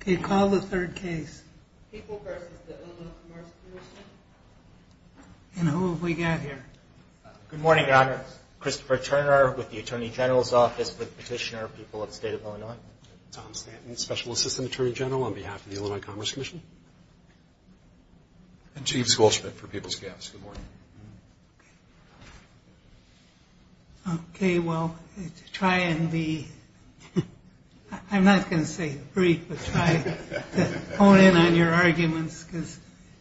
Okay, call the third case. People v. Illinois Commerce Commission. And who have we got here? Good morning, Your Honor. Christopher Turner with the Attorney General's Office with Petitioner People of the State of Illinois. Tom Stanton, Special Assistant Attorney General on behalf of the Illinois Commerce Commission. And James Goldschmidt for People's Gas. Good morning. Okay, well, try and be, I'm not going to say brief, but try to hone in on your arguments, because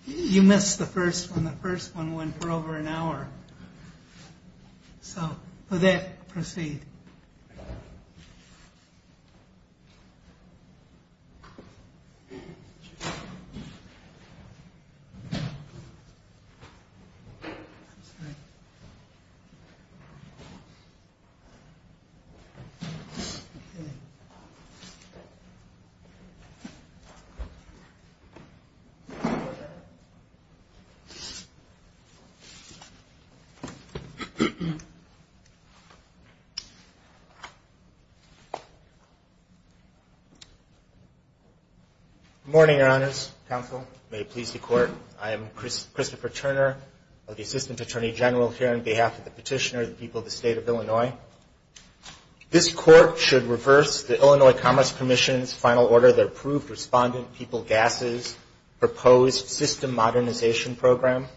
you missed the first one. The first one went for over an hour. So, with that, proceed. Christopher Turner Good morning, Your Honors. Counsel, may it please the Court. I am Christopher Turner of the Assistant Attorney General here on behalf of the Petitioner People of the State of Illinois. This Court should reverse the Illinois Commerce Commission's final order that approved Respondent People Gas's proposed system modernization program.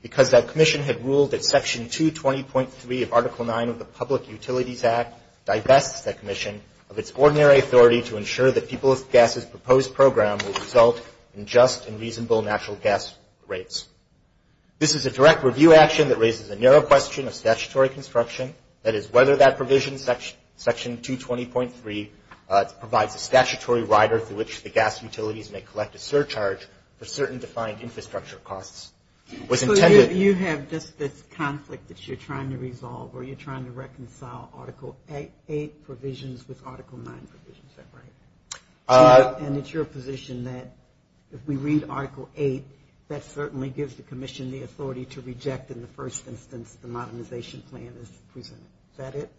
Because that commission had ruled that Section 220.3 of Article 9 of the Public Utilities Act divests that commission of its ordinary authority to ensure that People's Gas's proposed program will result in just and reasonable natural gas rates. This is a direct review action that raises a narrow question of statutory construction, that is whether that provision, Section 220.3, provides a statutory rider through which the gas utilities may collect a surcharge for certain defined infrastructure costs. It was intended... So, you have just this conflict that you're trying to resolve, or you're trying to reconcile Article 8 provisions with Article 9 provisions, is that right? And it's your position that if we read Article 8, that certainly gives the commission the authority to reject in the first instance the modernization plan that's presented. Is that it?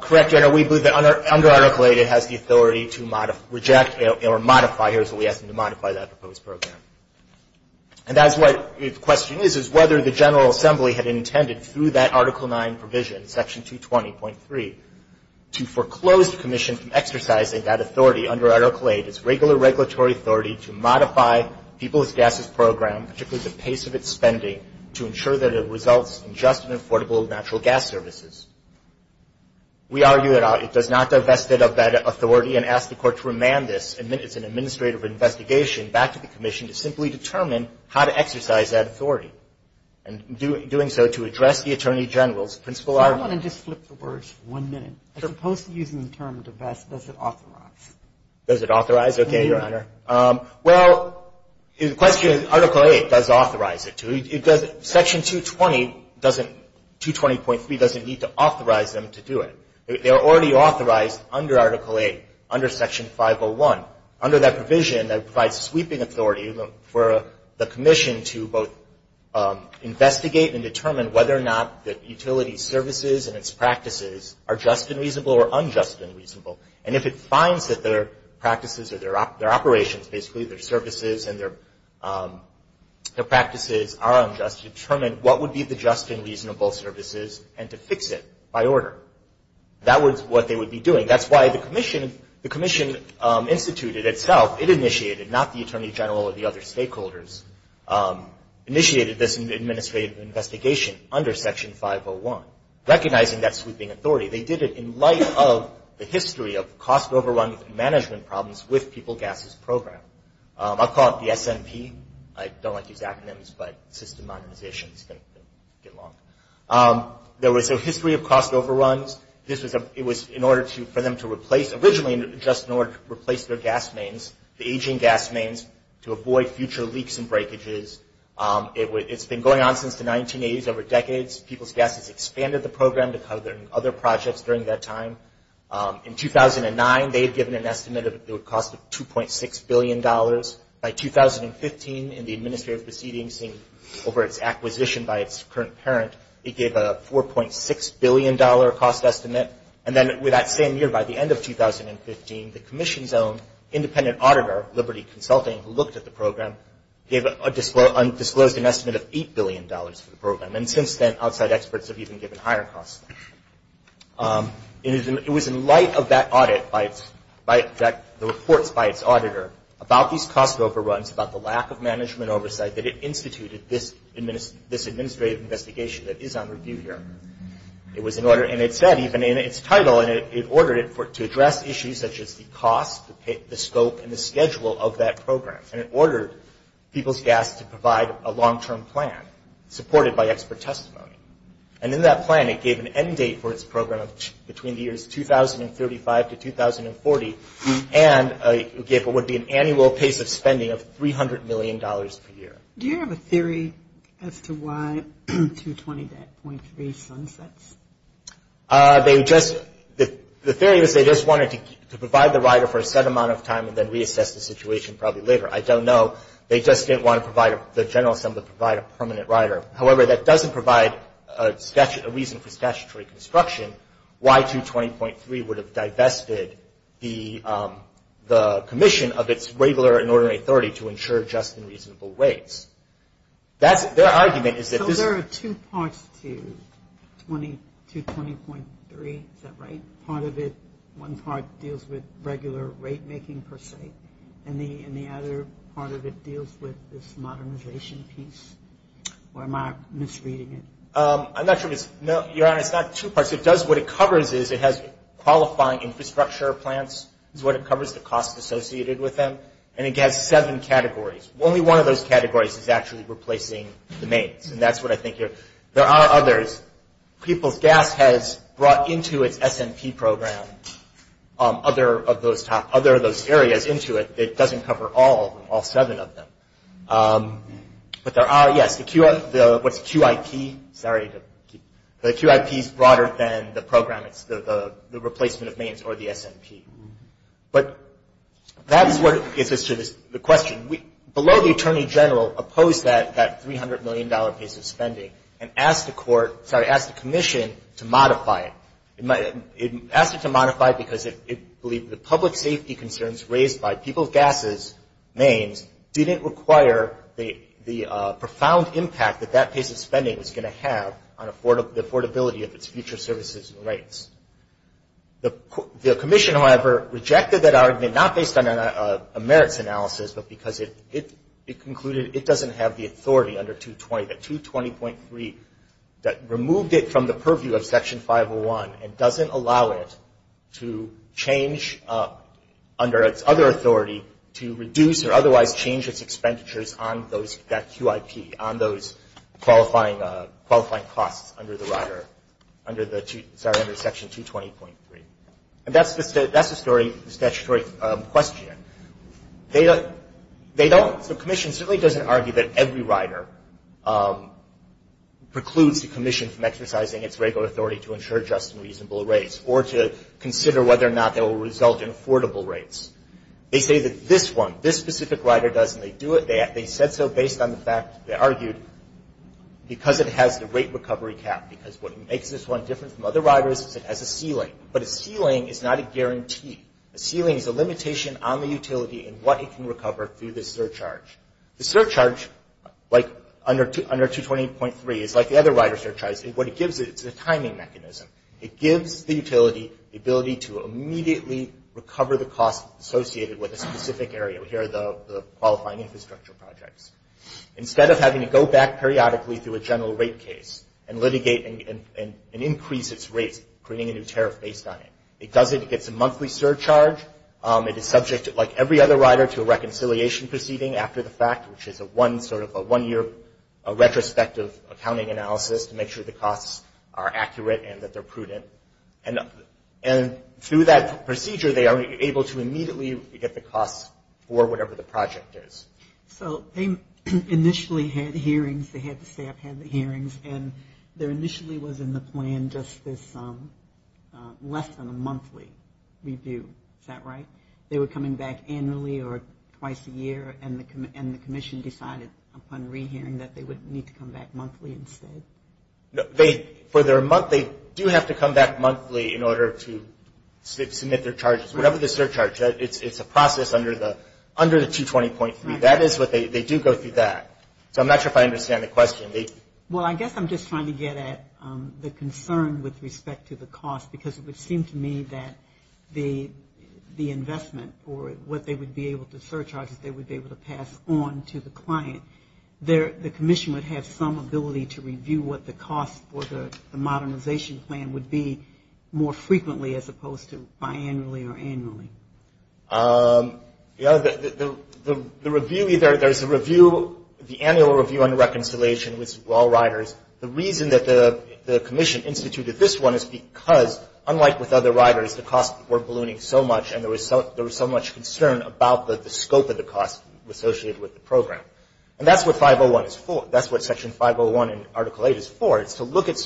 Correct, Your Honor. We believe that under Article 8, it has the authority to reject or modify. Here's what we ask them to modify that proposed program. And that's what the question is, is whether the General Assembly had intended through that Article 9 provision, Section 220.3, to foreclose the commission from exercising that authority under Article 8, its regular regulatory authority to modify People's Gas's program, particularly the pace of its spending, to ensure that it results in just and affordable natural gas services. We argue that it does not divest it of that authority and ask the Court to remand this. It's an administrative investigation back to the commission to simply determine how to exercise that authority. And in doing so, to address the Attorney General's principal argument. I want to just flip the words for one minute. As opposed to using the term divest, does it authorize? Does it authorize? Okay, Your Honor. Well, the question is Article 8 does authorize it to. Section 220 doesn't, 220.3 doesn't need to authorize them to do it. They are already authorized under Article 8, under Section 501. Under that provision, that provides sweeping authority for the commission to both investigate and determine whether or not the utility services and its practices are just and reasonable or unjust and reasonable. And if it finds that their practices or their operations, basically, their services and their practices are unjust, to determine what would be the just and reasonable services and to fix it by order. That was what they would be doing. That's why the commission instituted itself, it initiated, not the Attorney General or the other stakeholders, initiated this administrative investigation under Section 501, recognizing that sweeping authority. They did it in light of the history of cost overrun management problems with People, Gases Program. I'll call it the SMP. I don't like to use acronyms, but system modernization is going to get long. There was a history of cost overruns. It was in order for them to replace, originally just in order to replace their gas mains, the aging gas mains, to avoid future leaks and breakages. It's been going on since the 1980s, over decades. People, Gases expanded the program to cover other projects during that time. In 2009, they had given an estimate of the cost of $2.6 billion. By 2015, in the administrative proceedings over its acquisition by its current parent, it gave a $4.6 billion cost estimate. And then that same year, by the end of 2015, the commission's own independent auditor, Liberty Consulting, who looked at the program, disclosed an estimate of $8 billion for the program. And since then, outside experts have even given higher costs. It was in light of that audit, the reports by its auditor, about these cost overruns, about the lack of management oversight, that it instituted this administrative investigation that is under review here. It was in order, and it said, even in its title, and it ordered it to address issues such as the cost, the scope, and the schedule of that program. And it ordered People's Gas to provide a long-term plan, supported by expert testimony. And in that plan, it gave an end date for its program between the years 2035 to 2040, and it gave what would be an annual pace of spending of $300 million per year. Do you have a theory as to why 220.3 sunsets? They just – the theory is they just wanted to provide the rider for a set amount of time and then reassess the situation probably later. I don't know. They just didn't want to provide – the General Assembly provide a permanent rider. However, that doesn't provide a reason for statutory construction. Why 220.3 would have divested the commission of its regular and ordinary authority to ensure just and reasonable rates. That's – their argument is that this is – So there are two parts to 220.3. Is that right? Part of it – one part deals with regular rate-making, per se, and the other part of it deals with this modernization piece? Or am I misreading it? I'm not sure if it's – no, Your Honor, it's not two parts. It does – what it covers is it has qualifying infrastructure plans is what it covers, the costs associated with them, and it has seven categories. Only one of those categories is actually replacing the mains, and that's what I think you're – there are others. People's Gas has brought into its S&P program other of those top – other of those areas into it. It doesn't cover all of them, all seven of them. But there are – yes, the – what's QIP? Sorry to keep – the QIP is broader than the program. It's the replacement of mains or the S&P. But that is what gets us to the question. We – below the attorney general opposed that $300 million piece of spending and asked the court – sorry, asked the commission to modify it. It asked it to modify it because it believed the public safety concerns raised by People's Gas's mains didn't require the profound impact that that piece of spending was going to have on affordability of its future services and rights. The commission, however, rejected that argument not based on a merits analysis, but because it concluded it doesn't have the authority under 220, that 220.3 that removed it from the purview of Section 501 and doesn't allow it to change under its other authority to reduce or otherwise change its expenditures on those – that QIP, on those qualifying costs under the rider – sorry, under Section 220.3. And that's the statutory question. They don't – the commission certainly doesn't argue that every rider precludes the commission from exercising its regular authority to ensure just and reasonable rates or to consider whether or not they will result in affordable rates. They say that this one, this specific rider doesn't. They do it – they said so based on the fact – they argued because it has the rate recovery cap, because what makes this one different from other riders is it has a ceiling. But a ceiling is not a guarantee. A ceiling is a limitation on the utility and what it can recover through the surcharge. The surcharge, like under 220.3, is like the other rider surcharges. What it gives it is a timing mechanism. It gives the utility the ability to immediately recover the cost associated with a specific area. Here are the qualifying infrastructure projects. Instead of having to go back periodically through a general rate case and litigate and increase its rates, creating a new tariff based on it, it does it. It gets a monthly surcharge. It is subject, like every other rider, to a reconciliation proceeding after the fact, which is a one sort of – a one-year retrospective accounting analysis to make sure the costs are accurate and that they're prudent. And through that procedure, they are able to immediately get the costs for whatever the project is. So they initially had hearings. They had the staff have the hearings. And there initially was in the plan just this less than a monthly review. Is that right? They were coming back annually or twice a year, and the commission decided upon re-hearing that they would need to come back monthly instead? For their month, they do have to come back monthly in order to submit their charges. Whatever the surcharge, it's a process under the 220.3. That is what they – they do go through that. So I'm not sure if I understand the question. Well, I guess I'm just trying to get at the concern with respect to the cost, because it would seem to me that the investment for what they would be able to surcharge is they would be able to pass on to the client. The commission would have some ability to review what the cost for the modernization plan would be more frequently as opposed to biannually or annually. The review – there's a review, the annual review and reconciliation with all riders. The reason that the commission instituted this one is because, unlike with other riders, the costs were ballooning so much, and there was so much concern about the scope of the costs associated with the program. And that's what 501 is for. That's what Section 501 in Article 8 is for. It's to look at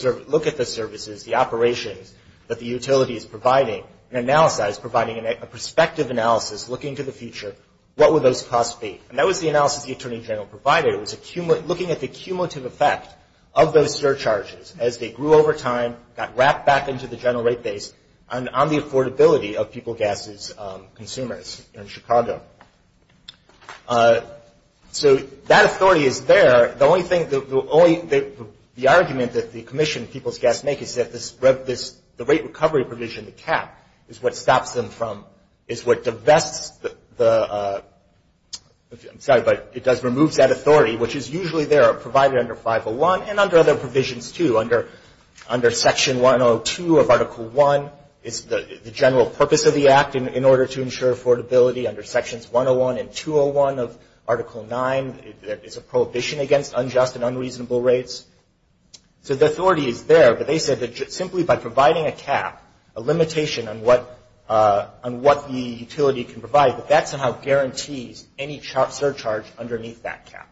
the services, the operations that the utility is providing, and analyze, providing a perspective analysis, looking to the future, what would those costs be? And that was the analysis the Attorney General provided. It was looking at the cumulative effect of those surcharges as they grew over time, got wrapped back into the general rate base on the affordability of people's gas consumers in Chicago. So that authority is there. The only thing – the only – the argument that the commission, People's Gas, make is that this – the rate recovery provision, the cap, is what stops them from – is what divests the – I'm sorry, but it does remove that authority, which is usually there provided under 501 and under other provisions, too, under Section 102 of Article 1. It's the general purpose of the Act in order to ensure affordability under Sections 101 and 201 of Article 9. It's a prohibition against unjust and unreasonable rates. So the authority is there, but they said that simply by providing a cap, a limitation on what the utility can provide, that that somehow guarantees any surcharge underneath that cap.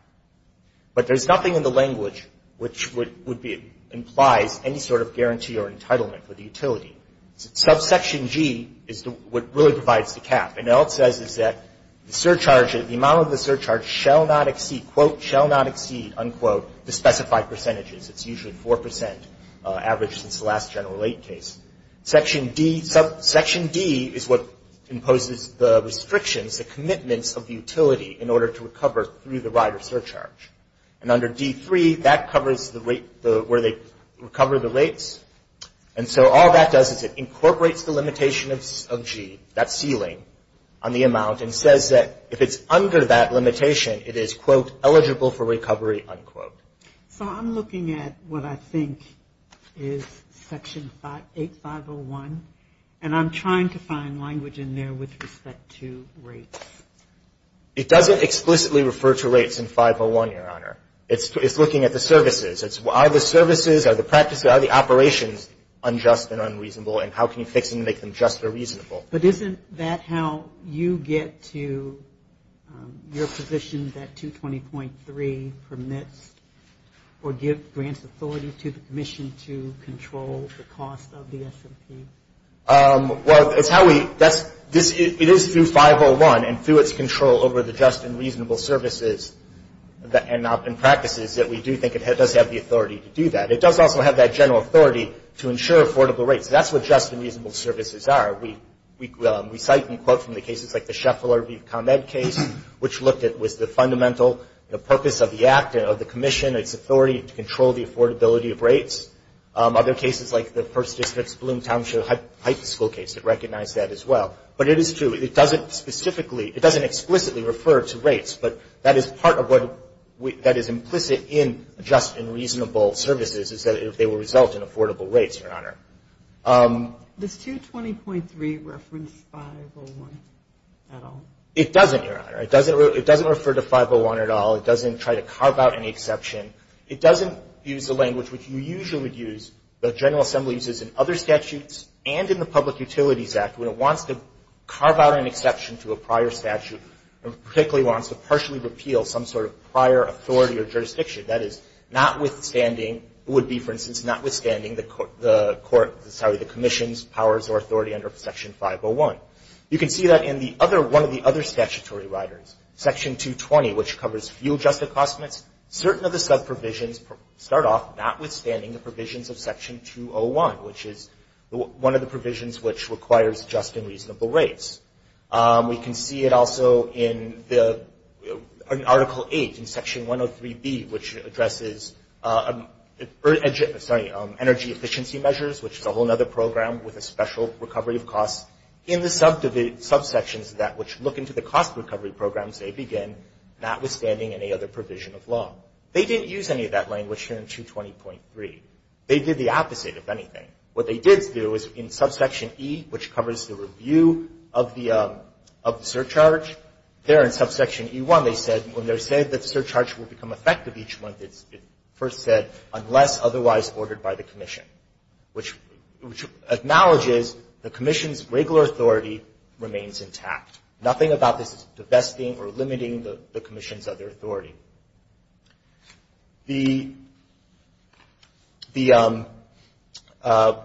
But there's nothing in the language which would be – implies any sort of guarantee or entitlement for the utility. Subsection G is what really provides the cap, and all it says is that the surcharge – the amount of the surcharge shall not exceed – quote, shall not exceed, unquote, the specified percentages. It's usually 4 percent, average since the last general rate case. Section D – Section D is what imposes the restrictions, the commitments of the utility, in order to recover through the right of surcharge. And under D3, that covers the rate – where they recover the rates. And so all that does is it incorporates the limitation of G, that ceiling, on the amount, and says that if it's under that limitation, it is, quote, eligible for recovery, unquote. So I'm looking at what I think is Section 8501, and I'm trying to find language in there with respect to rates. It doesn't explicitly refer to rates in 501, Your Honor. It's looking at the services. Are the services, are the practices, are the operations unjust and unreasonable, and how can you fix them to make them just or reasonable? But isn't that how you get to your position that 220.3 permits or gives grants authority to the commission to control the cost of the S&P? Well, it's how we – that's – it is through 501, and through its control over the just and reasonable services and practices, that we do think it does have the authority to do that. It does also have that general authority to ensure affordable rates. That's what just and reasonable services are. We cite, in quote, from the cases like the Sheffler v. ComEd case, which looked at – was the fundamental purpose of the act, of the commission, its authority to control the affordability of rates. Other cases like the First District's Bloom Township high school case, it recognized that as well. But it is true. It doesn't specifically – it doesn't explicitly refer to rates, but that is part of what – that is implicit in just and reasonable services, is that they will result in affordable rates, Your Honor. Does 220.3 reference 501 at all? It doesn't, Your Honor. It doesn't refer to 501 at all. It doesn't try to carve out any exception. It doesn't use the language which you usually use, the General Assembly uses in other statutes and in the Public Utilities Act when it wants to carve out an exception to a prior statute and particularly wants to partially repeal some sort of prior authority or jurisdiction. That is, notwithstanding – would be, for instance, notwithstanding the court – sorry, the commission's powers or authority under Section 501. You can see that in the other – one of the other statutory riders, Section 220, which covers fuel-adjusted cost limits, certain of the sub-provisions start off notwithstanding the provisions of Section 201, which is one of the provisions which requires just and reasonable rates. We can see it also in the – in Article 8, in Section 103B, which addresses energy efficiency measures, which is a whole other program with a special recovery of costs, in the subsections that which look into the cost recovery programs they begin, notwithstanding any other provision of law. They didn't use any of that language here in 220.3. They did the opposite, if anything. What they did do is, in Subsection E, which covers the review of the – of the surcharge, there in Subsection E1, they said, when they're saying that the surcharge will become effective each month, it first said, unless otherwise ordered by the commission, which – which acknowledges the commission's regular authority remains intact. Nothing about this is divesting or limiting the commission's other authority. The – the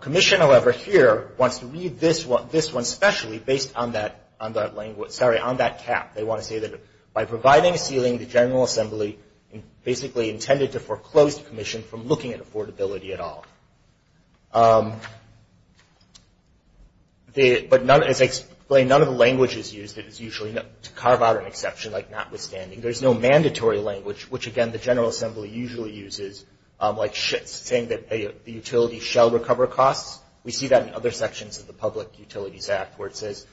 commission, however, here, wants to read this one – this one specially, based on that – on that language – sorry, on that cap. They want to say that, by providing a ceiling to General Assembly, basically intended to foreclose the commission from looking at affordability at all. The – but none – as I explained, none of the language is used that is usually – to carve out an exception, like notwithstanding. There's no mandatory language, which, again, the General Assembly usually uses, like Schitt's, saying that the utility shall recover costs. We see that in other sections of the Public Utilities Act, where it says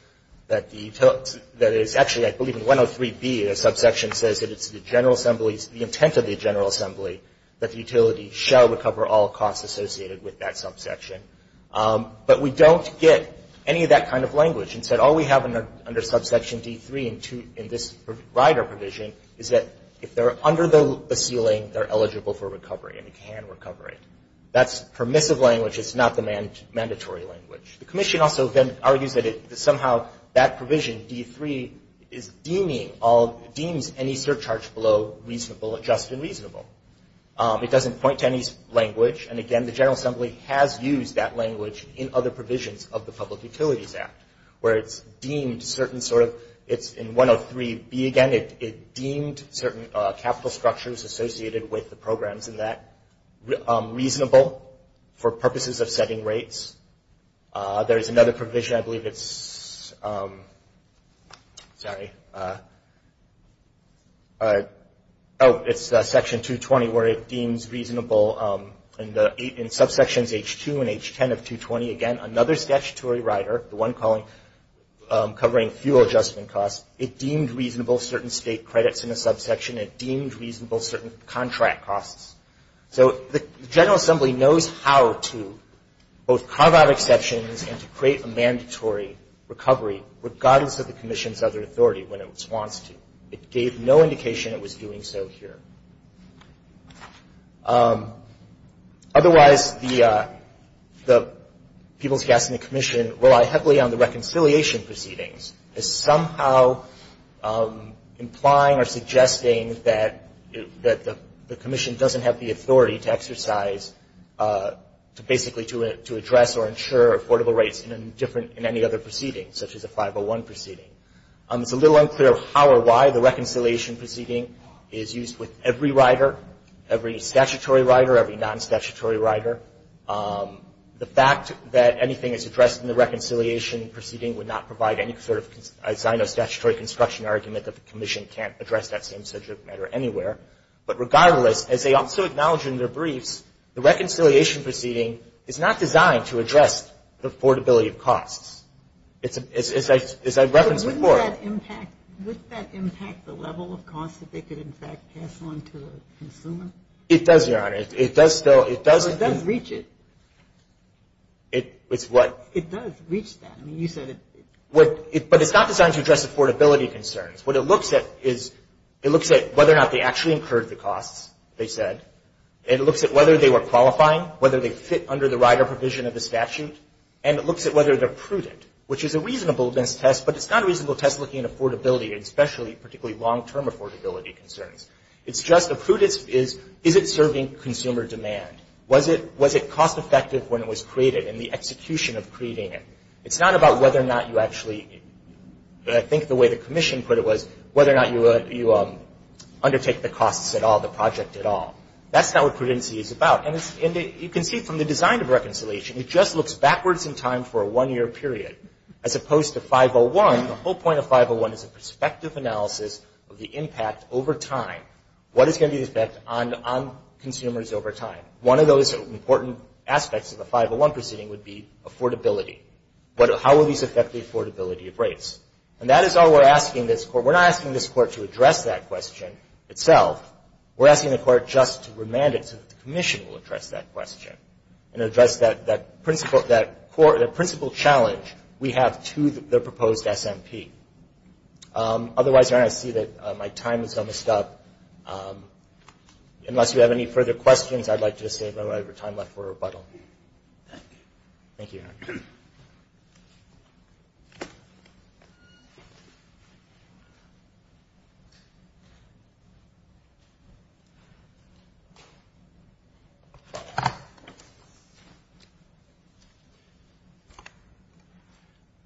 that the utility – that is – actually, I believe in 103B, the subsection says that it's the General Assembly's – the intent of the General Assembly that the utility shall recover all costs associated with that subsection. But we don't get any of that kind of language. Instead, all we have under subsection D3 in this rider provision is that, if they're under the ceiling, they're eligible for recovery, and they can recover it. That's permissive language. It's not the mandatory language. The commission also then argues that somehow that provision, D3, is deeming all – deems any surcharge below reasonable – just and reasonable. It doesn't point to any language, and, again, the General Assembly has used that language in other provisions of the Public Utilities Act, where it's deemed certain sort of – it's in 103B again. It deemed certain capital structures associated with the programs in that reasonable for purposes of setting rates. There is another provision. I believe it's – sorry. Oh, it's Section 220, where it deems reasonable in subsections H2 and H10 of 220. Again, another statutory rider, the one covering fuel adjustment costs, it deemed reasonable certain state credits in a subsection. It deemed reasonable certain contract costs. So the General Assembly knows how to both carve out exceptions and to create a mandatory recovery regardless of the commission's other authority when it wants to. It gave no indication it was doing so here. Otherwise, the people's gas and the commission rely heavily on the reconciliation proceedings as somehow implying or suggesting that the commission doesn't have the authority to exercise – basically to address or ensure affordable rates in any other proceeding, such as a 501 proceeding. It's a little unclear how or why the reconciliation proceeding is used with every rider, every statutory rider, every non-statutory rider. The fact that anything is addressed in the reconciliation proceeding would not provide any sort of, as I know, statutory construction argument that the commission can't address that same subject matter anywhere. But regardless, as they also acknowledge in their briefs, the reconciliation proceeding is not designed to address the affordability of costs. As I referenced before – But wouldn't that impact the level of costs that they could, in fact, pass on to a consumer? It does, Your Honor. It does still – Well, it does reach it. It's what? It does reach that. I mean, you said it – But it's not designed to address affordability concerns. What it looks at is – it looks at whether or not they actually incurred the costs, they said. It looks at whether they were qualifying, whether they fit under the rider provision of the statute. And it looks at whether they're prudent, which is a reasonable test, but it's not a reasonable test looking at affordability, and especially particularly long-term affordability concerns. It's just a prudence is, is it serving consumer demand? Was it cost-effective when it was created and the execution of creating it? It's not about whether or not you actually – I think the way the commission put it was, whether or not you undertake the costs at all, the project at all. That's not what prudency is about. And you can see from the design of reconciliation, it just looks backwards in time for a one-year period as opposed to 501. The whole point of 501 is a perspective analysis of the impact over time. What is going to be the effect on consumers over time? One of those important aspects of the 501 proceeding would be affordability. How will these affect the affordability of rates? And that is why we're asking this court – we're not asking this court to address that question itself. We're asking the court just to remand it so that the commission will address that question and address that principle challenge we have to the proposed SMP. Otherwise, I see that my time is almost up. Unless you have any further questions, I'd like to just save whatever time left for rebuttal. Thank you. Thank you, Your Honor.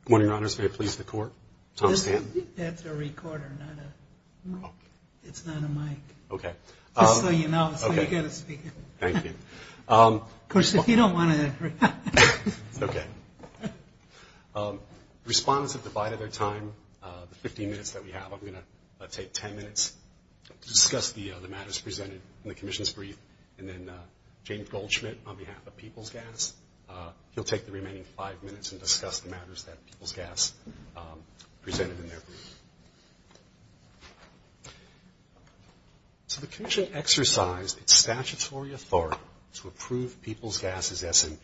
Good morning, Your Honors. May it please the Court. Tom Stanton. That's a recorder, not a – it's not a mic. Okay. Just so you know. Okay. So you get to speak. Thank you. Of course, if you don't want to – It's okay. Respondents have divided their time. The 15 minutes that we have, I'm going to take 10 minutes to discuss the matters presented in the commission's brief. And then James Goldschmidt, on behalf of People's Gas, he'll take the remaining five minutes and discuss the matters that People's Gas presented in their brief. So the commission exercised its statutory authority to approve People's Gas' SMP.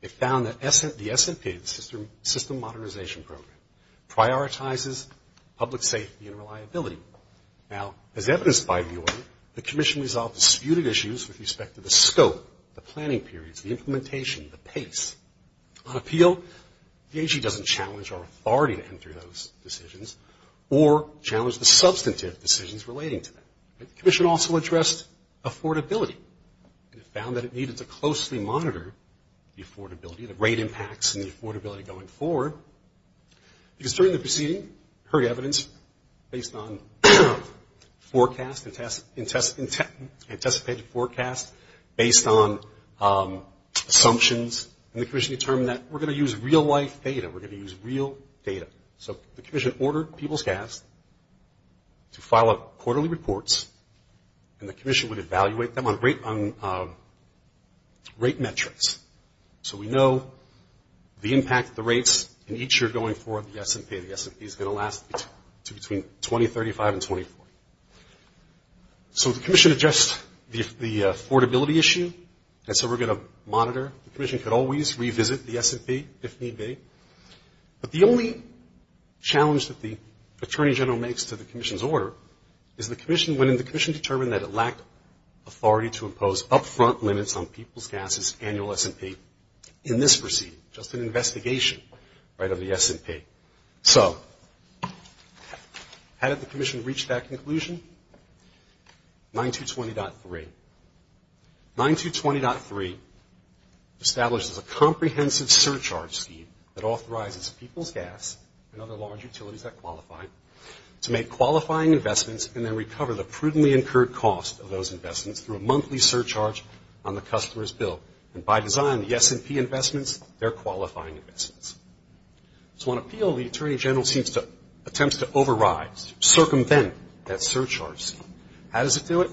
It found that the SMP, the System Modernization Program, prioritizes public safety and reliability. Now, as evidenced by the order, the commission resolved disputed issues with respect to the scope, the planning periods, the implementation, the pace. On appeal, the AG doesn't challenge our authority to enter those decisions. Or challenge the substantive decisions relating to that. The commission also addressed affordability. It found that it needed to closely monitor the affordability, the rate impacts, and the affordability going forward. Because during the proceeding, heard evidence based on forecast, anticipated forecast, based on assumptions. And the commission determined that we're going to use real-life data. We're going to use real data. So the commission ordered People's Gas to file up quarterly reports, and the commission would evaluate them on rate metrics. So we know the impact, the rates, in each year going forward, the SMP. The SMP is going to last between 2035 and 2040. So the commission addressed the affordability issue, and so we're going to monitor. The commission could always revisit the SMP if need be. But the only challenge that the Attorney General makes to the commission's order is when the commission determined that it lacked authority to impose up-front limits on People's Gas's annual SMP in this proceeding, just an investigation of the SMP. So how did the commission reach that conclusion? 9220.3. 9220.3 establishes a comprehensive surcharge scheme that authorizes People's Gas and other large utilities that qualify to make qualifying investments and then recover the prudently incurred cost of those investments through a monthly surcharge on the customer's bill. And by design, the SMP investments, they're qualifying investments. So on appeal, the Attorney General seems to attempt to override, circumvent that surcharge scheme. How does it do it?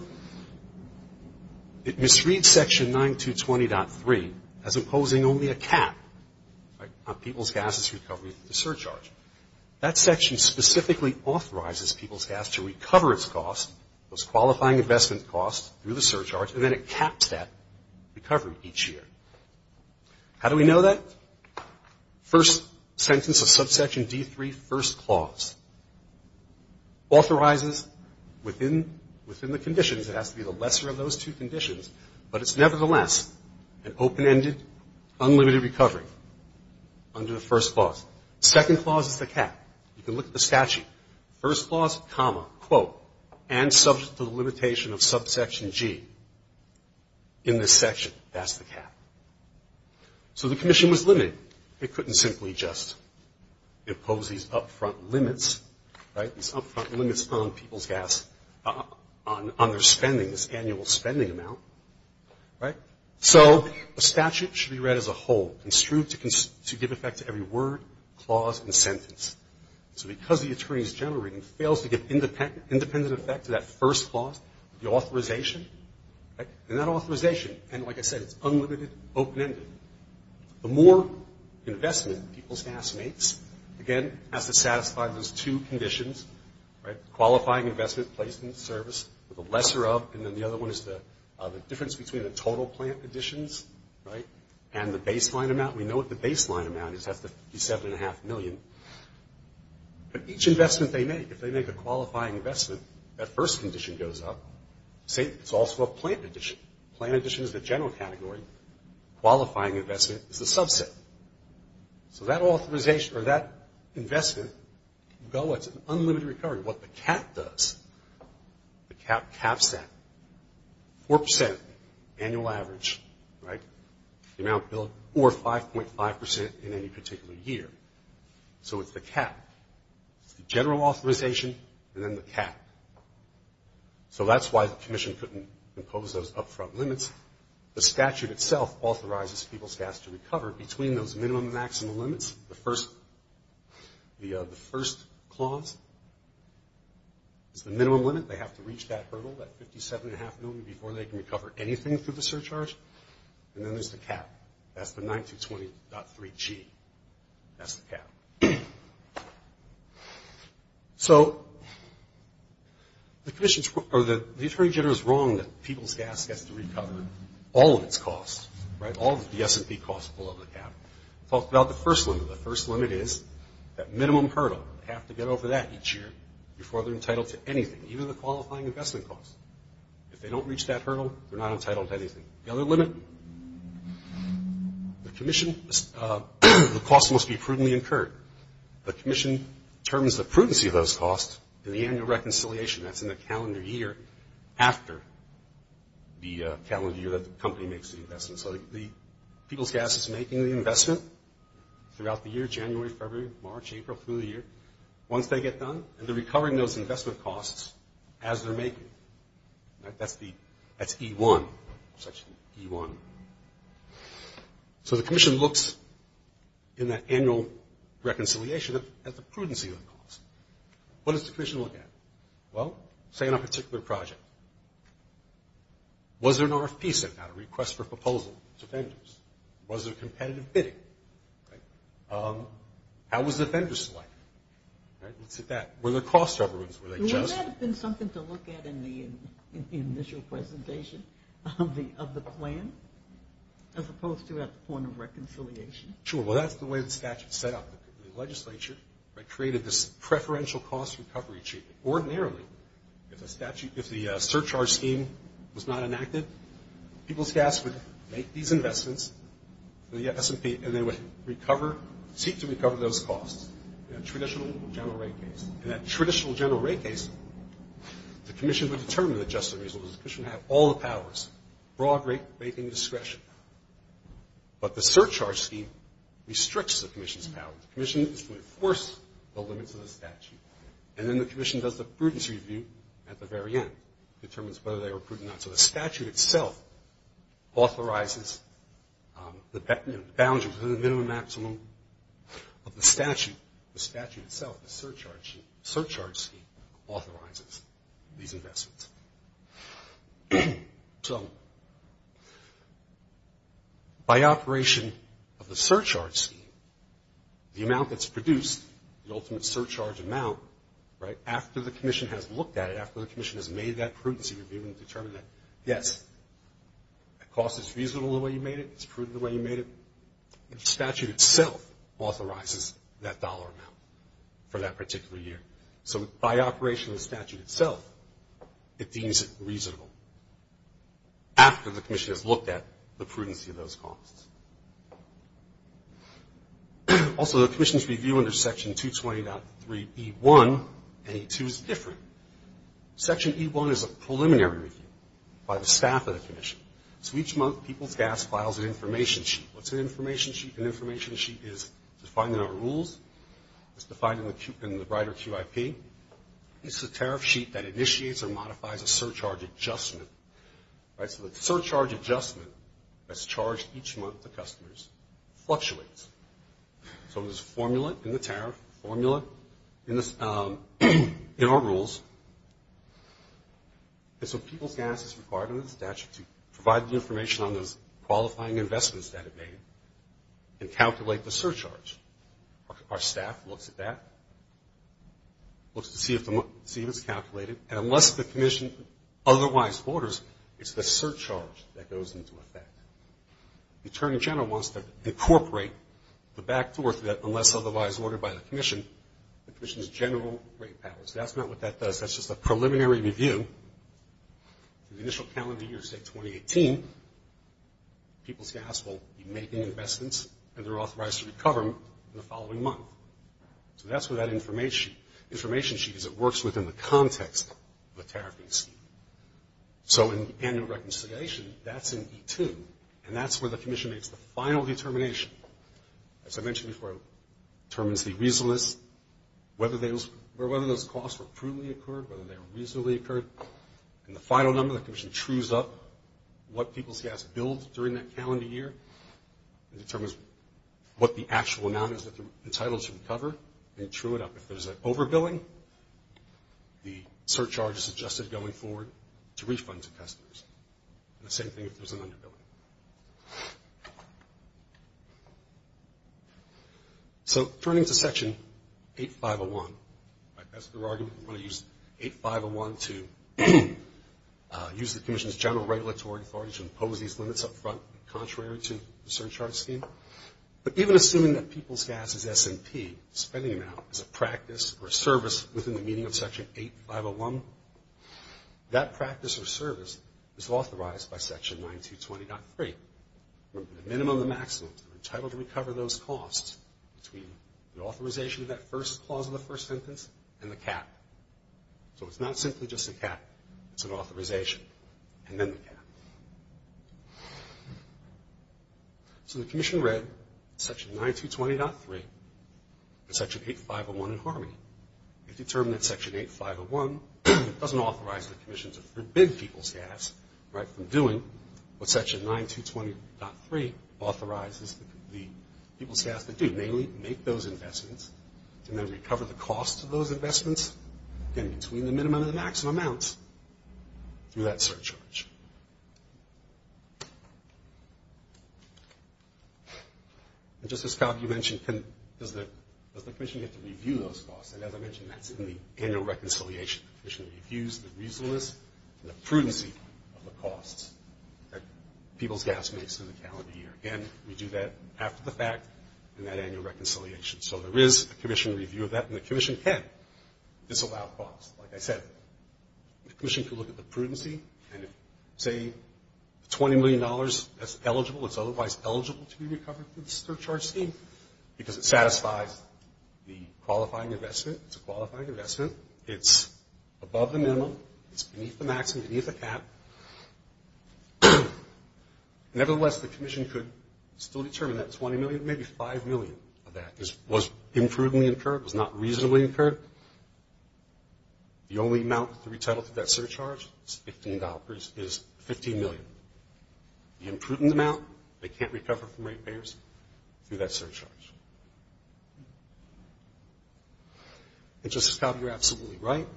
It misreads Section 9220.3 as imposing only a cap on People's Gas's recovery through the surcharge. That section specifically authorizes People's Gas to recover its cost, those qualifying investment costs, through the surcharge, and then it caps that recovery each year. How do we know that? First sentence of subsection D3, first clause, authorizes within the conditions, it has to be the lesser of those two conditions, but it's nevertheless an open-ended, unlimited recovery under the first clause. Second clause is the cap. You can look at the statute. First clause, comma, quote, and subject to the limitation of subsection G. In this section, that's the cap. So the commission was limited. It couldn't simply just impose these up-front limits, right, these up-front limits on People's Gas, on their spending, this annual spending amount, right? So a statute should be read as a whole, construed to give effect to every word, clause, and sentence. So because the attorney's general reading fails to give independent effect to that first clause, the authorization, and that authorization, and like I said, it's unlimited, open-ended, the more investment People's Gas makes, again, has to satisfy those two conditions, right, qualifying investment, placement, service, the lesser of, and then the other one is the difference between the total plant additions, right, and the baseline amount. We know what the baseline amount is. That's the $57.5 million. But each investment they make, if they make a qualifying investment, that first condition goes up. See, it's also a plant addition. Plant addition is the general category. Qualifying investment is the subset. So that authorization, or that investment can go as an unlimited recovery. What the cap does, the cap caps that, 4% annual average, right, the amount built, or 5.5% in any particular year. So it's the cap. It's the general authorization, and then the cap. So that's why the commission couldn't impose those up-front limits. The statute itself authorizes People's Gas to recover between those minimum and maximum limits. The first clause is the minimum limit. They have to reach that hurdle, that $57.5 million, before they can recover anything through the surcharge. And then there's the cap. That's the 9220.3G. That's the cap. So the commission's, or the attorney general's wrong that People's Gas has to recover all of its costs, right, all of the S&P costs below the cap. It talks about the first limit. The first limit is that minimum hurdle. They have to get over that each year before they're entitled to anything, even the qualifying investment costs. If they don't reach that hurdle, they're not entitled to anything. The other limit, the commission, the cost must be prudently incurred. The commission determines the prudency of those costs in the annual reconciliation. That's in the calendar year after the calendar year that the company makes the investment. So People's Gas is making the investment throughout the year, January, February, March, April, through the year. Once they get done, they're recovering those investment costs as they're making them. That's E1, section E1. So the commission looks in that annual reconciliation at the prudency of the costs. What does the commission look at? Well, say in a particular project, was there an RFP sent out, a request for proposal to vendors? Was there competitive bidding? How was the vendor selected? Let's look at that. Were there cost rubbers? Were they just? Wouldn't that have been something to look at in the initial presentation of the plan, as opposed to at the point of reconciliation? Sure. Well, that's the way the statute is set up. The legislature created this preferential cost recovery. Ordinarily, if the surcharge scheme was not enacted, People's Gas would make these investments. And they would seek to recover those costs in a traditional general rate case. In that traditional general rate case, the commission would determine the just and reasonable. The commission would have all the powers, broad rate making discretion. But the surcharge scheme restricts the commission's powers. The commission is to enforce the limits of the statute. And then the commission does the prudence review at the very end, determines whether they were prudent or not. So the statute itself authorizes the boundaries of the minimum and maximum of the statute. The statute itself, the surcharge scheme, authorizes these investments. So by operation of the surcharge scheme, the amount that's produced, the ultimate surcharge amount, right, after the commission has looked at it, after the commission has made that prudency review and determined that, yes, the cost is reasonable the way you made it, it's prudent the way you made it, the statute itself authorizes that dollar amount for that particular year. So by operation of the statute itself, it deems it reasonable after the commission has looked at the prudency of those costs. Also, the commission's review under Section 220.3E1 and E2 is different. Section E1 is a preliminary review by the staff of the commission. So each month, people's gas files an information sheet. What's an information sheet? An information sheet is defined in our rules. It's defined in the brighter QIP. It's a tariff sheet that initiates or modifies a surcharge adjustment. So the surcharge adjustment that's charged each month to customers fluctuates. So there's a formula in the tariff, a formula in our rules. And so people's gas is required under the statute to provide the information on those qualifying investments that it made and calculate the surcharge. Our staff looks at that, looks to see if it's calculated. And unless the commission otherwise orders, it's the surcharge that goes into effect. The attorney general wants to incorporate the back and forth that unless otherwise ordered by the commission, the commission's general rate powers. That's not what that does. That's just a preliminary review. The initial calendar year is, say, 2018. People's gas will be making investments, and they're authorized to recover them the following month. So that's where that information sheet is. It works within the context of the tariffing scheme. So in the annual reconciliation, that's in E2. And that's where the commission makes the final determination. As I mentioned before, it determines the reasonableness, whether those costs were truly incurred, whether they were reasonably incurred. And the final number, the commission trues up what people's gas billed during that calendar year. It determines what the actual amount is that they're entitled to recover. They true it up. If there's an overbilling, the surcharge is adjusted going forward to refund to customers. And the same thing if there's an underbilling. So turning to Section 8501, that's their argument. They want to use 8501 to use the commission's general regulatory authority to impose these limits up front, contrary to the surcharge scheme. But even assuming that people's gas is S&P, spending amount, is a practice or a service within the meaning of Section 8501, that practice or service is authorized by Section 9220.3. Remember, the minimum, the maximum, they're entitled to recover those costs between the authorization of that first clause of the first sentence and the cap. So it's not simply just a cap. It's an authorization and then the cap. So the commission read Section 9220.3 and Section 8501 in harmony. It determined that Section 8501 doesn't authorize the commission to forbid people's gas, right, from doing what Section 9220.3 authorizes the people's gas to do, namely make those investments and then recover the cost of those investments, again, between the minimum and the maximum amounts through that surcharge. And just as Kyle, you mentioned, does the commission get to review those costs? And as I mentioned, that's in the annual reconciliation. The commission reviews the reasonableness and the prudency of the costs that people's gas makes in the calendar year. Again, we do that after the fact in that annual reconciliation. So there is a commission review of that, and the commission can disallow costs. Like I said, the commission can look at the prudency and if, say, $20 million is eligible, it's otherwise eligible to be recovered through the surcharge scheme because it satisfies the qualifying investment. It's a qualifying investment. It's above the minimum. It's beneath the maximum, beneath the cap. Nevertheless, the commission could still determine that $20 million, maybe $5 million of that was imprudently incurred, was not reasonably incurred. The only amount to be retitled to that surcharge is $15 million. The imprudent amount they can't recover from rate payers through that surcharge. And just as Kyle, you're absolutely right.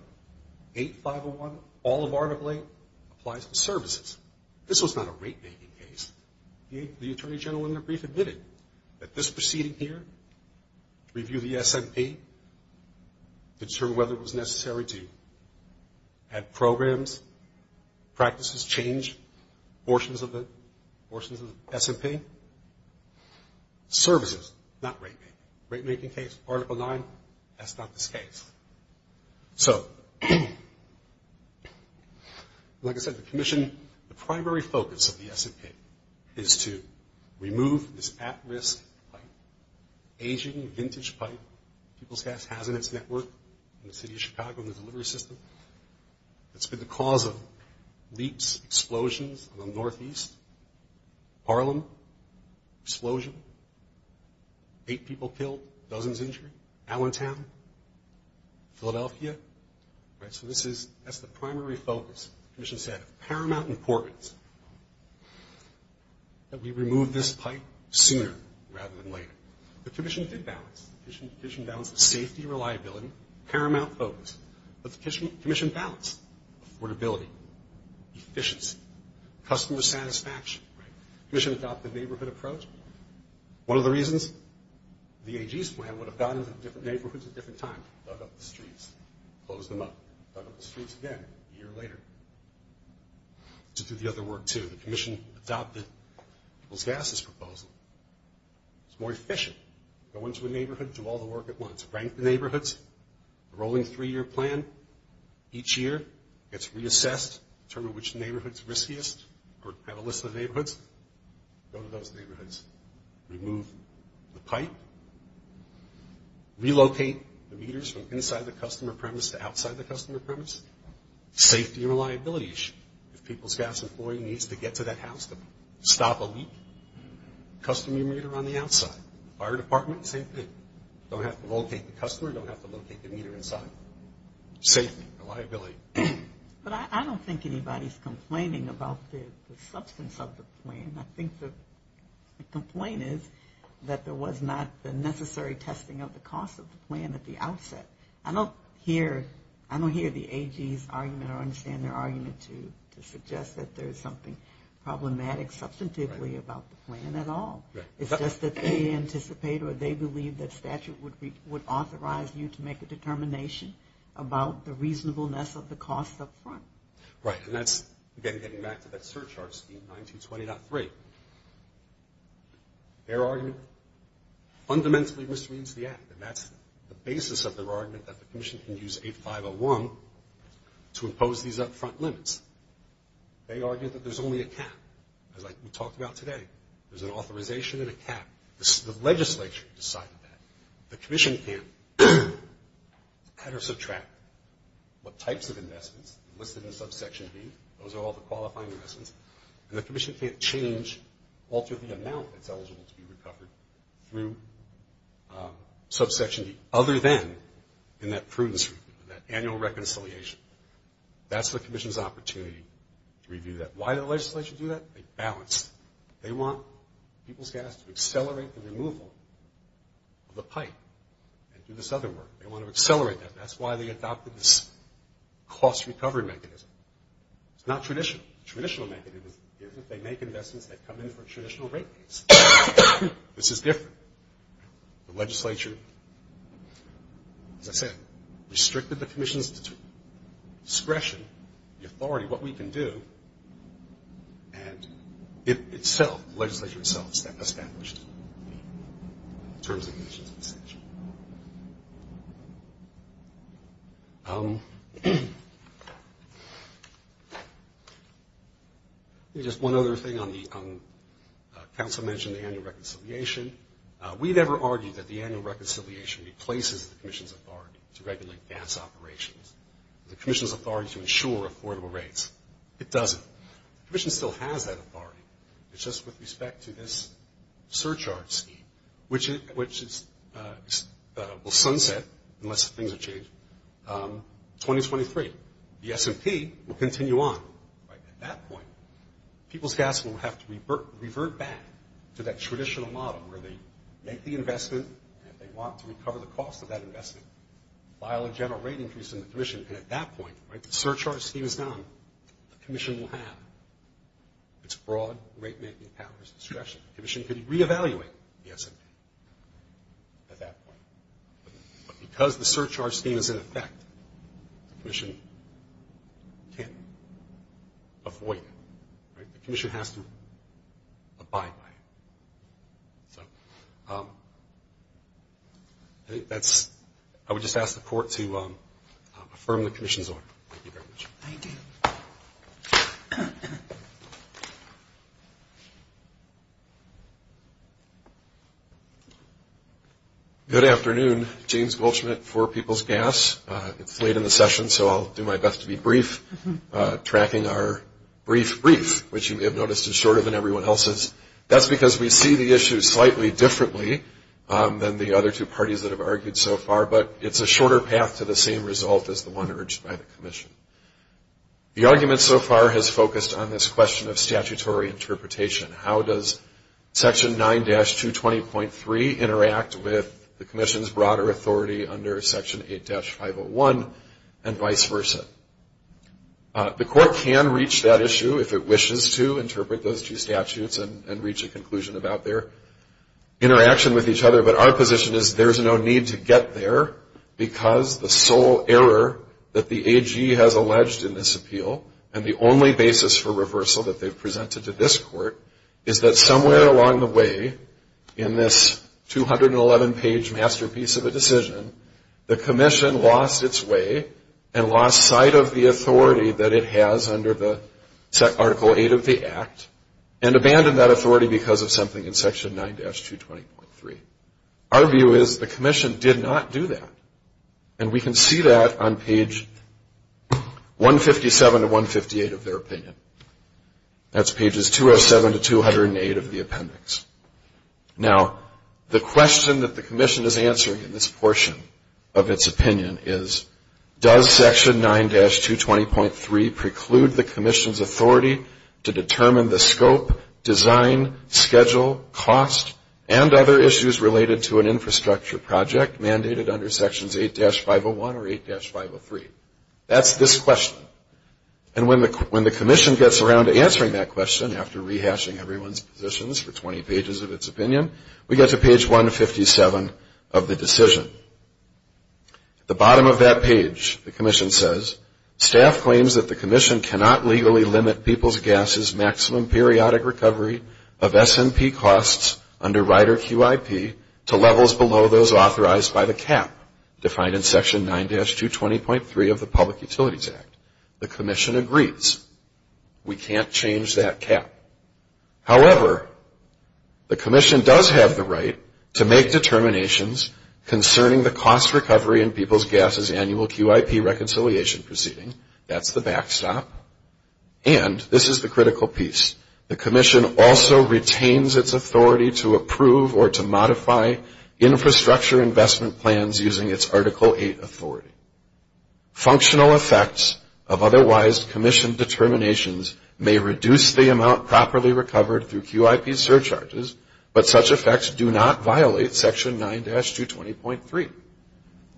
8501, all of Article 8, applies to services. This was not a rate-making case. The Attorney General in the brief admitted that this proceeding here, review the S&P, to determine whether it was necessary to have programs, practices change, portions of the S&P. Services, not rate-making. Rate-making case, Article 9, that's not this case. So, like I said, the commission, the primary focus of the S&P, is to remove this at-risk, aging, vintage pipe, People's Gas Hazardous Network in the city of Chicago and the delivery system. It's been the cause of leaps, explosions in the Northeast, Harlem, explosion. Eight people killed, dozens injured, Allentown, Philadelphia. All right, so this is, that's the primary focus. The commission said, of paramount importance, that we remove this pipe sooner rather than later. The commission did balance. The commission balanced the safety, reliability, paramount focus. But the commission balanced affordability, efficiency, customer satisfaction. Commission adopted a neighborhood approach. One of the reasons the AG's plan would have gone into different neighborhoods at different times, dug up the streets, closed them up, dug up the streets again a year later. To do the other work, too, the commission adopted People's Gas's proposal. It's more efficient. Go into a neighborhood, do all the work at once. Rank the neighborhoods. A rolling three-year plan. Each year, it's reassessed to determine which neighborhood's riskiest or have a list of neighborhoods. Go to those neighborhoods. Remove the pipe. Relocate the meters from inside the customer premise to outside the customer premise. Safety and reliability issue. If People's Gas employee needs to get to that house to stop a leak, custom your meter on the outside. Fire department, same thing. Don't have to locate the customer. Don't have to locate the meter inside. Safety, reliability. But I don't think anybody's complaining about the substance of the plan. I think the complaint is that there was not the necessary testing of the cost of the plan at the outset. I don't hear the AG's argument or understand their argument to suggest that there's something problematic substantively about the plan at all. It's just that they anticipate or they believe that statute would authorize you to make a determination about the reasonableness of the cost up front. Right, and that's, again, getting back to that surcharge scheme, 1920.3. Their argument fundamentally misreads the act, and that's the basis of their argument that the commission can use 8501 to impose these up-front limits. They argue that there's only a cap. It's like we talked about today. There's an authorization and a cap. The legislature decided that. The commission can't add or subtract what types of investments listed in subsection B. Those are all the qualifying investments. And the commission can't change, alter the amount that's eligible to be recovered through subsection B other than in that prudence review, that annual reconciliation. That's the commission's opportunity to review that. Why did the legislature do that? They balanced. They want people's gas to accelerate the removal of the pipe and do this other work. They want to accelerate that. That's why they adopted this cost recovery mechanism. It's not traditional. The traditional mechanism is that they make investments that come in for a traditional rate base. This is different. The legislature, as I said, restricted the commission's discretion, the authority, what we can do, and itself, the legislature itself established the terms and conditions of the statute. Just one other thing. Council mentioned the annual reconciliation. We've never argued that the annual reconciliation replaces the commission's authority to regulate gas operations. The commission's authority to ensure affordable rates. It doesn't. The commission still has that authority. It's just with respect to this surcharge scheme, which will sunset unless things are changed, 2023. The S&P will continue on. At that point, people's gas will have to revert back to that traditional model where they make the investment and if they want to recover the cost of that investment, file a general rate increase in the commission, and at that point, the surcharge scheme is gone, the commission will have its broad rate-making powers discretion. The commission could reevaluate the S&P at that point. But because the surcharge scheme is in effect, the commission can't avoid it. The commission has to abide by it. So I would just ask the court to affirm the commission's order. Thank you very much. Thank you. Good afternoon. James Wolschmidt for People's Gas. It's late in the session, so I'll do my best to be brief, tracking our brief brief, which you may have noticed is shorter than everyone else's. That's because we see the issue slightly differently than the other two parties that have argued so far, but it's a shorter path to the same result as the one urged by the commission. The argument so far has focused on this question of statutory interpretation. How does Section 9-220.3 interact with the commission's broader authority under Section 8-501 and vice versa? The court can reach that issue if it wishes to, interpret those two statutes and reach a conclusion about their interaction with each other. But our position is there's no need to get there because the sole error that the AG has alleged in this appeal, and the only basis for reversal that they've presented to this court, is that somewhere along the way in this 211-page masterpiece of a decision, the commission lost its way and lost sight of the authority that it has under the Article 8 of the Act and abandoned that authority because of something in Section 9-220.3. Our view is the commission did not do that, and we can see that on page 157 to 158 of their opinion. That's pages 207 to 208 of the appendix. Now, the question that the commission is answering in this portion of its opinion is, does Section 9-220.3 preclude the commission's authority to determine the scope, design, schedule, cost, and other issues related to an infrastructure project mandated under Sections 8-501 or 8-503? That's this question. And when the commission gets around to answering that question after rehashing everyone's positions for 20 pages of its opinion, we get to page 157 of the decision. At the bottom of that page, the commission says, staff claims that the commission cannot legally limit People's Gas's maximum periodic recovery of S&P costs under Rider QIP to levels below those authorized by the cap defined in Section 9-220.3 of the Public Utilities Act. The commission agrees. We can't change that cap. However, the commission does have the right to make determinations concerning the cost recovery in People's Gas's annual QIP reconciliation proceeding. That's the backstop. And this is the critical piece. The commission also retains its authority to approve or to modify infrastructure investment plans using its Article 8 authority. Functional effects of otherwise commissioned determinations may reduce the amount properly recovered through QIP surcharges, but such effects do not violate Section 9-220.3.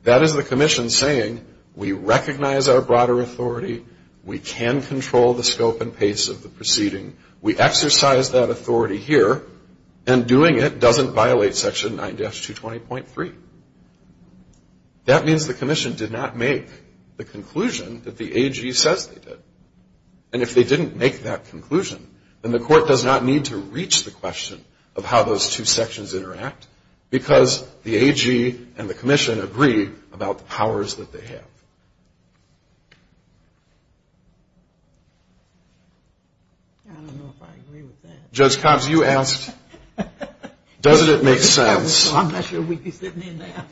That is the commission saying, we recognize our broader authority. We can control the scope and pace of the proceeding. We exercise that authority here, and doing it doesn't violate Section 9-220.3. That means the commission did not make the conclusion that the AG says they did. And if they didn't make that conclusion, then the court does not need to reach the question of how those two sections interact because the AG and the commission agree about the powers that they have. I don't know if I agree with that. Judge Cobbs, you asked, doesn't it make sense? I'm not sure we can sit in there.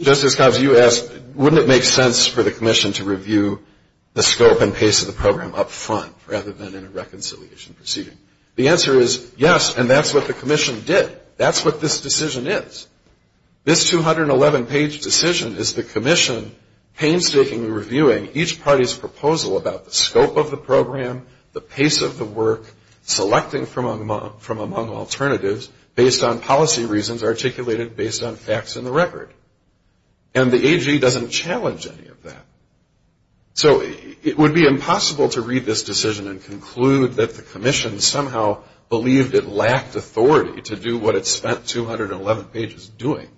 Justice Cobbs, you asked, wouldn't it make sense for the commission to review the scope and pace of the program up front rather than in a reconciliation proceeding? The answer is yes, and that's what the commission did. That's what this decision is. This 211-page decision is the commission painstakingly reviewing each party's proposal about the scope of the program, the pace of the work, selecting from among alternatives based on policy reasons articulated based on facts in the record. And the AG doesn't challenge any of that. So it would be impossible to read this decision and conclude that the commission somehow believed it lacked authority to do what it spent 211 pages doing.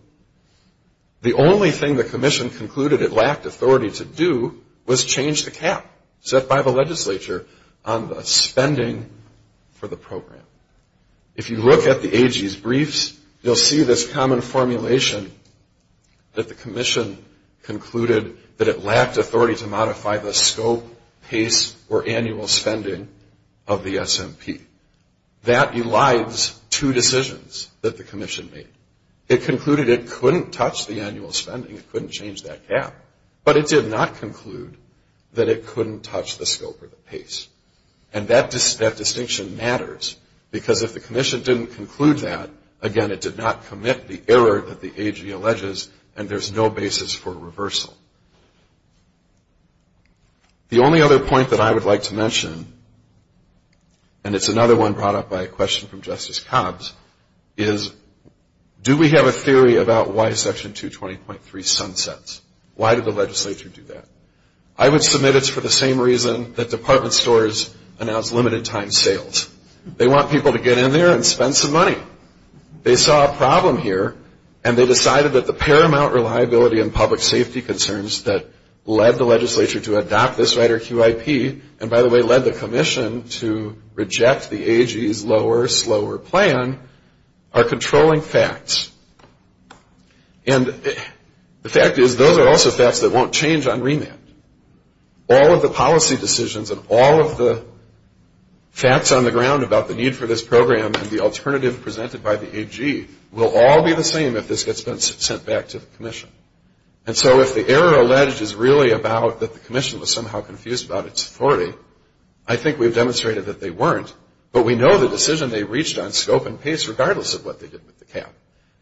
The only thing the commission concluded it lacked authority to do was change the cap set by the legislature on the spending for the program. If you look at the AG's briefs, you'll see this common formulation that the commission concluded that it lacked authority to modify the scope, pace, or annual spending of the SMP. That elides two decisions that the commission made. It concluded it couldn't touch the annual spending. It couldn't change that cap. But it did not conclude that it couldn't touch the scope or the pace. And that distinction matters because if the commission didn't conclude that, again, it did not commit the error that the AG alleges, and there's no basis for reversal. The only other point that I would like to mention, and it's another one brought up by a question from Justice Cobbs, is do we have a theory about why Section 220.3 sunsets? Why did the legislature do that? I would submit it's for the same reason that department stores announce limited time sales. They want people to get in there and spend some money. They saw a problem here, and they decided that the paramount reliability and public safety concerns that led the legislature to adopt this rider QIP, and, by the way, led the commission to reject the AG's lower, slower plan, are controlling facts. And the fact is those are also facts that won't change on remand. All of the policy decisions and all of the facts on the ground about the need for this program and the alternative presented by the AG will all be the same if this gets sent back to the commission. And so if the error alleged is really about that the commission was somehow confused about its authority, I think we've demonstrated that they weren't, but we know the decision they reached on scope and pace regardless of what they did with the cap.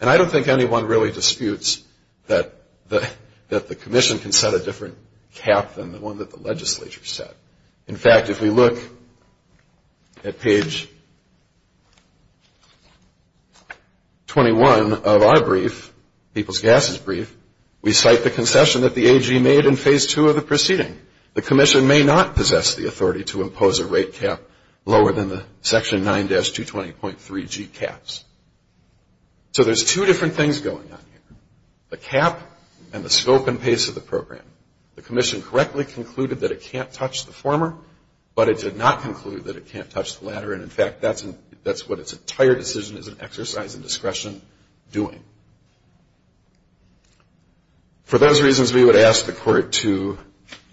And I don't think anyone really disputes that the commission can set a different cap than the one that the legislature set. In fact, if we look at page 21 of our brief, people's gases brief, we cite the concession that the AG made in phase two of the proceeding. The commission may not possess the authority to impose a rate cap lower than the section 9-220.3G caps. So there's two different things going on here, the cap and the scope and pace of the program. The commission correctly concluded that it can't touch the former, but it did not conclude that it can't touch the latter, and, in fact, that's what its entire decision is an exercise in discretion doing. For those reasons, we would ask the court to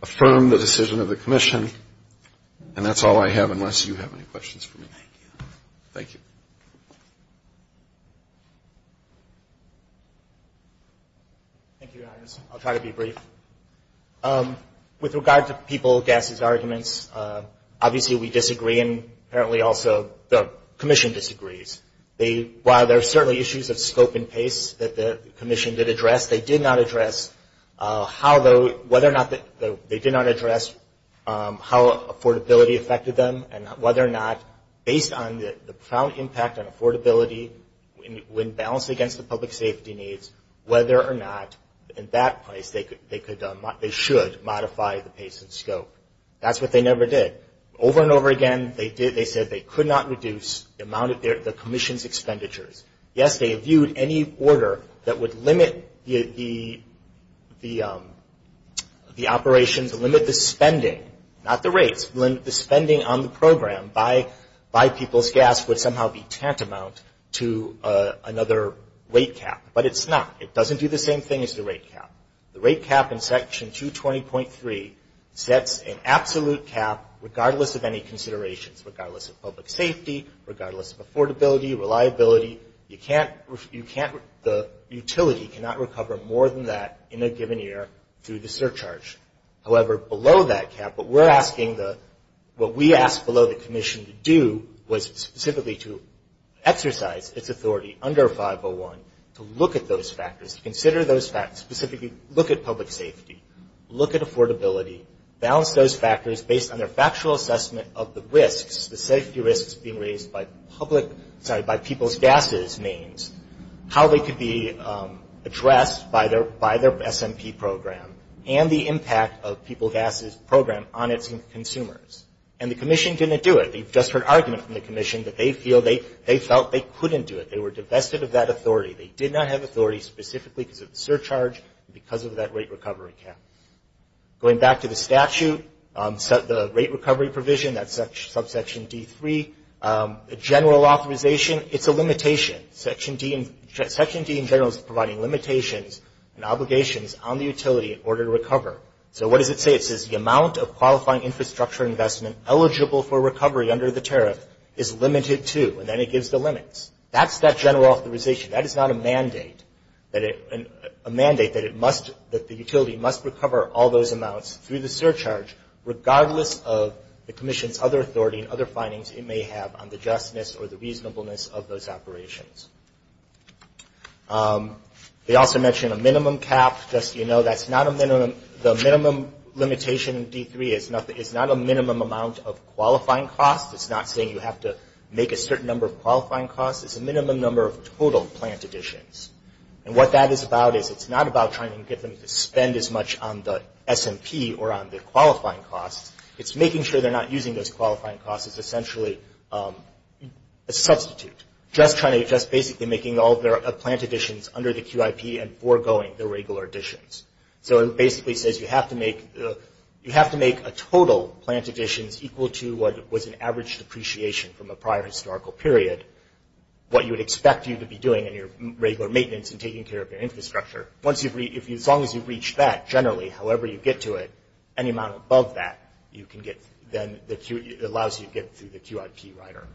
affirm the decision of the commission, and that's all I have unless you have any questions for me. Thank you. Thank you. Thank you, Your Honors. I'll try to be brief. With regard to people gases arguments, obviously we disagree, and apparently also the commission disagrees. While there are certainly issues of scope and pace that the commission did address, they did not address how affordability affected them and whether or not based on the profound impact on affordability when balanced against the public safety needs, whether or not in that place they should modify the pace and scope. That's what they never did. Over and over again, they said they could not reduce the amount of the commission's expenditures. Yes, they viewed any order that would limit the operations, limit the spending, not the rates, limit the spending on the program by people's gas would somehow be tantamount to another rate cap, but it's not. It doesn't do the same thing as the rate cap. The rate cap in section 220.3 sets an absolute cap regardless of any considerations, regardless of public safety, regardless of affordability, reliability. You can't, the utility cannot recover more than that in a given year through the surcharge. However, below that cap, what we're asking, what we asked below the commission to do was specifically to exercise its authority under 501 to look at those factors, to consider those factors, specifically look at public safety, look at affordability, balance those factors based on their factual assessment of the risks, the safety risks being raised by public, sorry, by people's gases means, how they could be addressed by their SMP program and the impact of people's gases program on its consumers. And the commission didn't do it. We've just heard argument from the commission that they felt they couldn't do it. They were divested of that authority. They did not have authority specifically because of the surcharge and because of that rate recovery cap. Going back to the statute, the rate recovery provision, that's subsection D3, general authorization, it's a limitation. Section D in general is providing limitations and obligations on the utility in order to recover. So what does it say? It says the amount of qualifying infrastructure investment eligible for recovery under the tariff is limited to, and then it gives the limits. That's that general authorization. That is not a mandate that it, a mandate that it must, that the utility must recover all those amounts through the surcharge regardless of the commission's other authority and other findings it may have on the justness or the reasonableness of those operations. They also mention a minimum cap. Just so you know, that's not a minimum. The minimum limitation in D3 is not a minimum amount of qualifying costs. It's not saying you have to make a certain number of qualifying costs. It's a minimum number of total plant additions. And what that is about is it's not about trying to get them to spend as much on the S&P or on the qualifying costs. It's making sure they're not using those qualifying costs as essentially a substitute, just basically making all of their plant additions under the QIP and foregoing the regular additions. So it basically says you have to make a total plant additions equal to what was an average depreciation from a prior historical period, what you would expect you to be doing in your regular maintenance and taking care of your infrastructure. Once you've reached, as long as you've reached that generally, however you get to it, any amount above that you can get, then allows you to get through the QIP rider.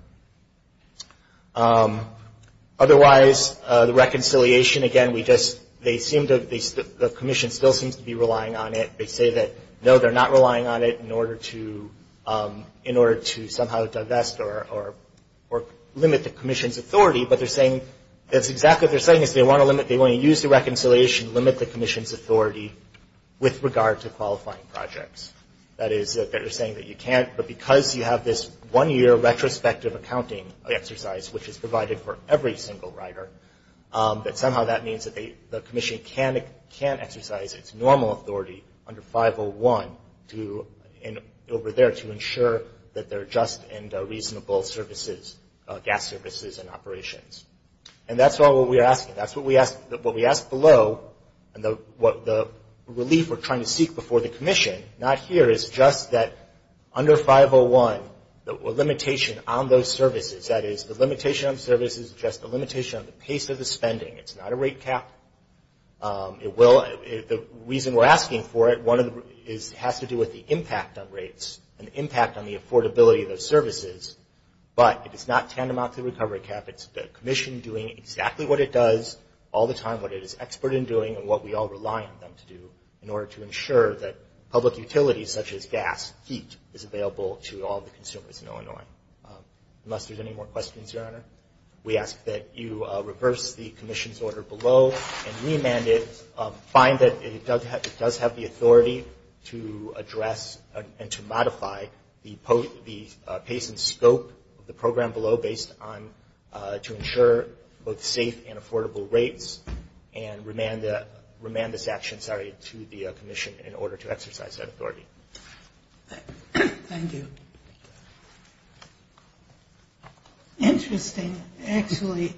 Otherwise, the reconciliation, again, we just, they seem to, the commission still seems to be relying on it. They say that, no, they're not relying on it in order to somehow divest or limit the commission's authority, but they're saying, that's exactly what they're saying is they want to limit, they want to use the reconciliation to limit the commission's authority with regard to qualifying projects. That is, that they're saying that you can't, but because you have this one-year retrospective accounting exercise, which is provided for every single rider, that somehow that means that the commission can't exercise its normal authority under 501 to, over there, to ensure that they're just and reasonable services, gas services and operations. And that's all that we're asking. That's what we asked below, and what the relief we're trying to seek before the commission, not here, is just that under 501, the limitation on those services, that is, the limitation on services is just a limitation on the pace of the spending. It's not a rate cap. It will, the reason we're asking for it, one of the, has to do with the impact on rates and the impact on the affordability of those services, but it is not tantamount to the recovery cap. It's the commission doing exactly what it does all the time, what it is expert in doing, and what we all rely on them to do in order to ensure that public utilities such as gas, heat is available to all the consumers in Illinois. Unless there's any more questions, Your Honor, we ask that you reverse the commission's order below and remand it, find that it does have the authority to address and to modify the pace and scope of the program below based on, to ensure both safe and affordable rates and remand this action, sorry, to the commission in order to exercise that authority. Thank you. Interesting. Actually,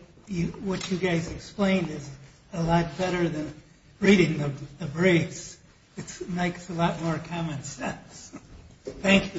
what you guys explained is a lot better than reading the briefs. It makes a lot more common sense. Thank you.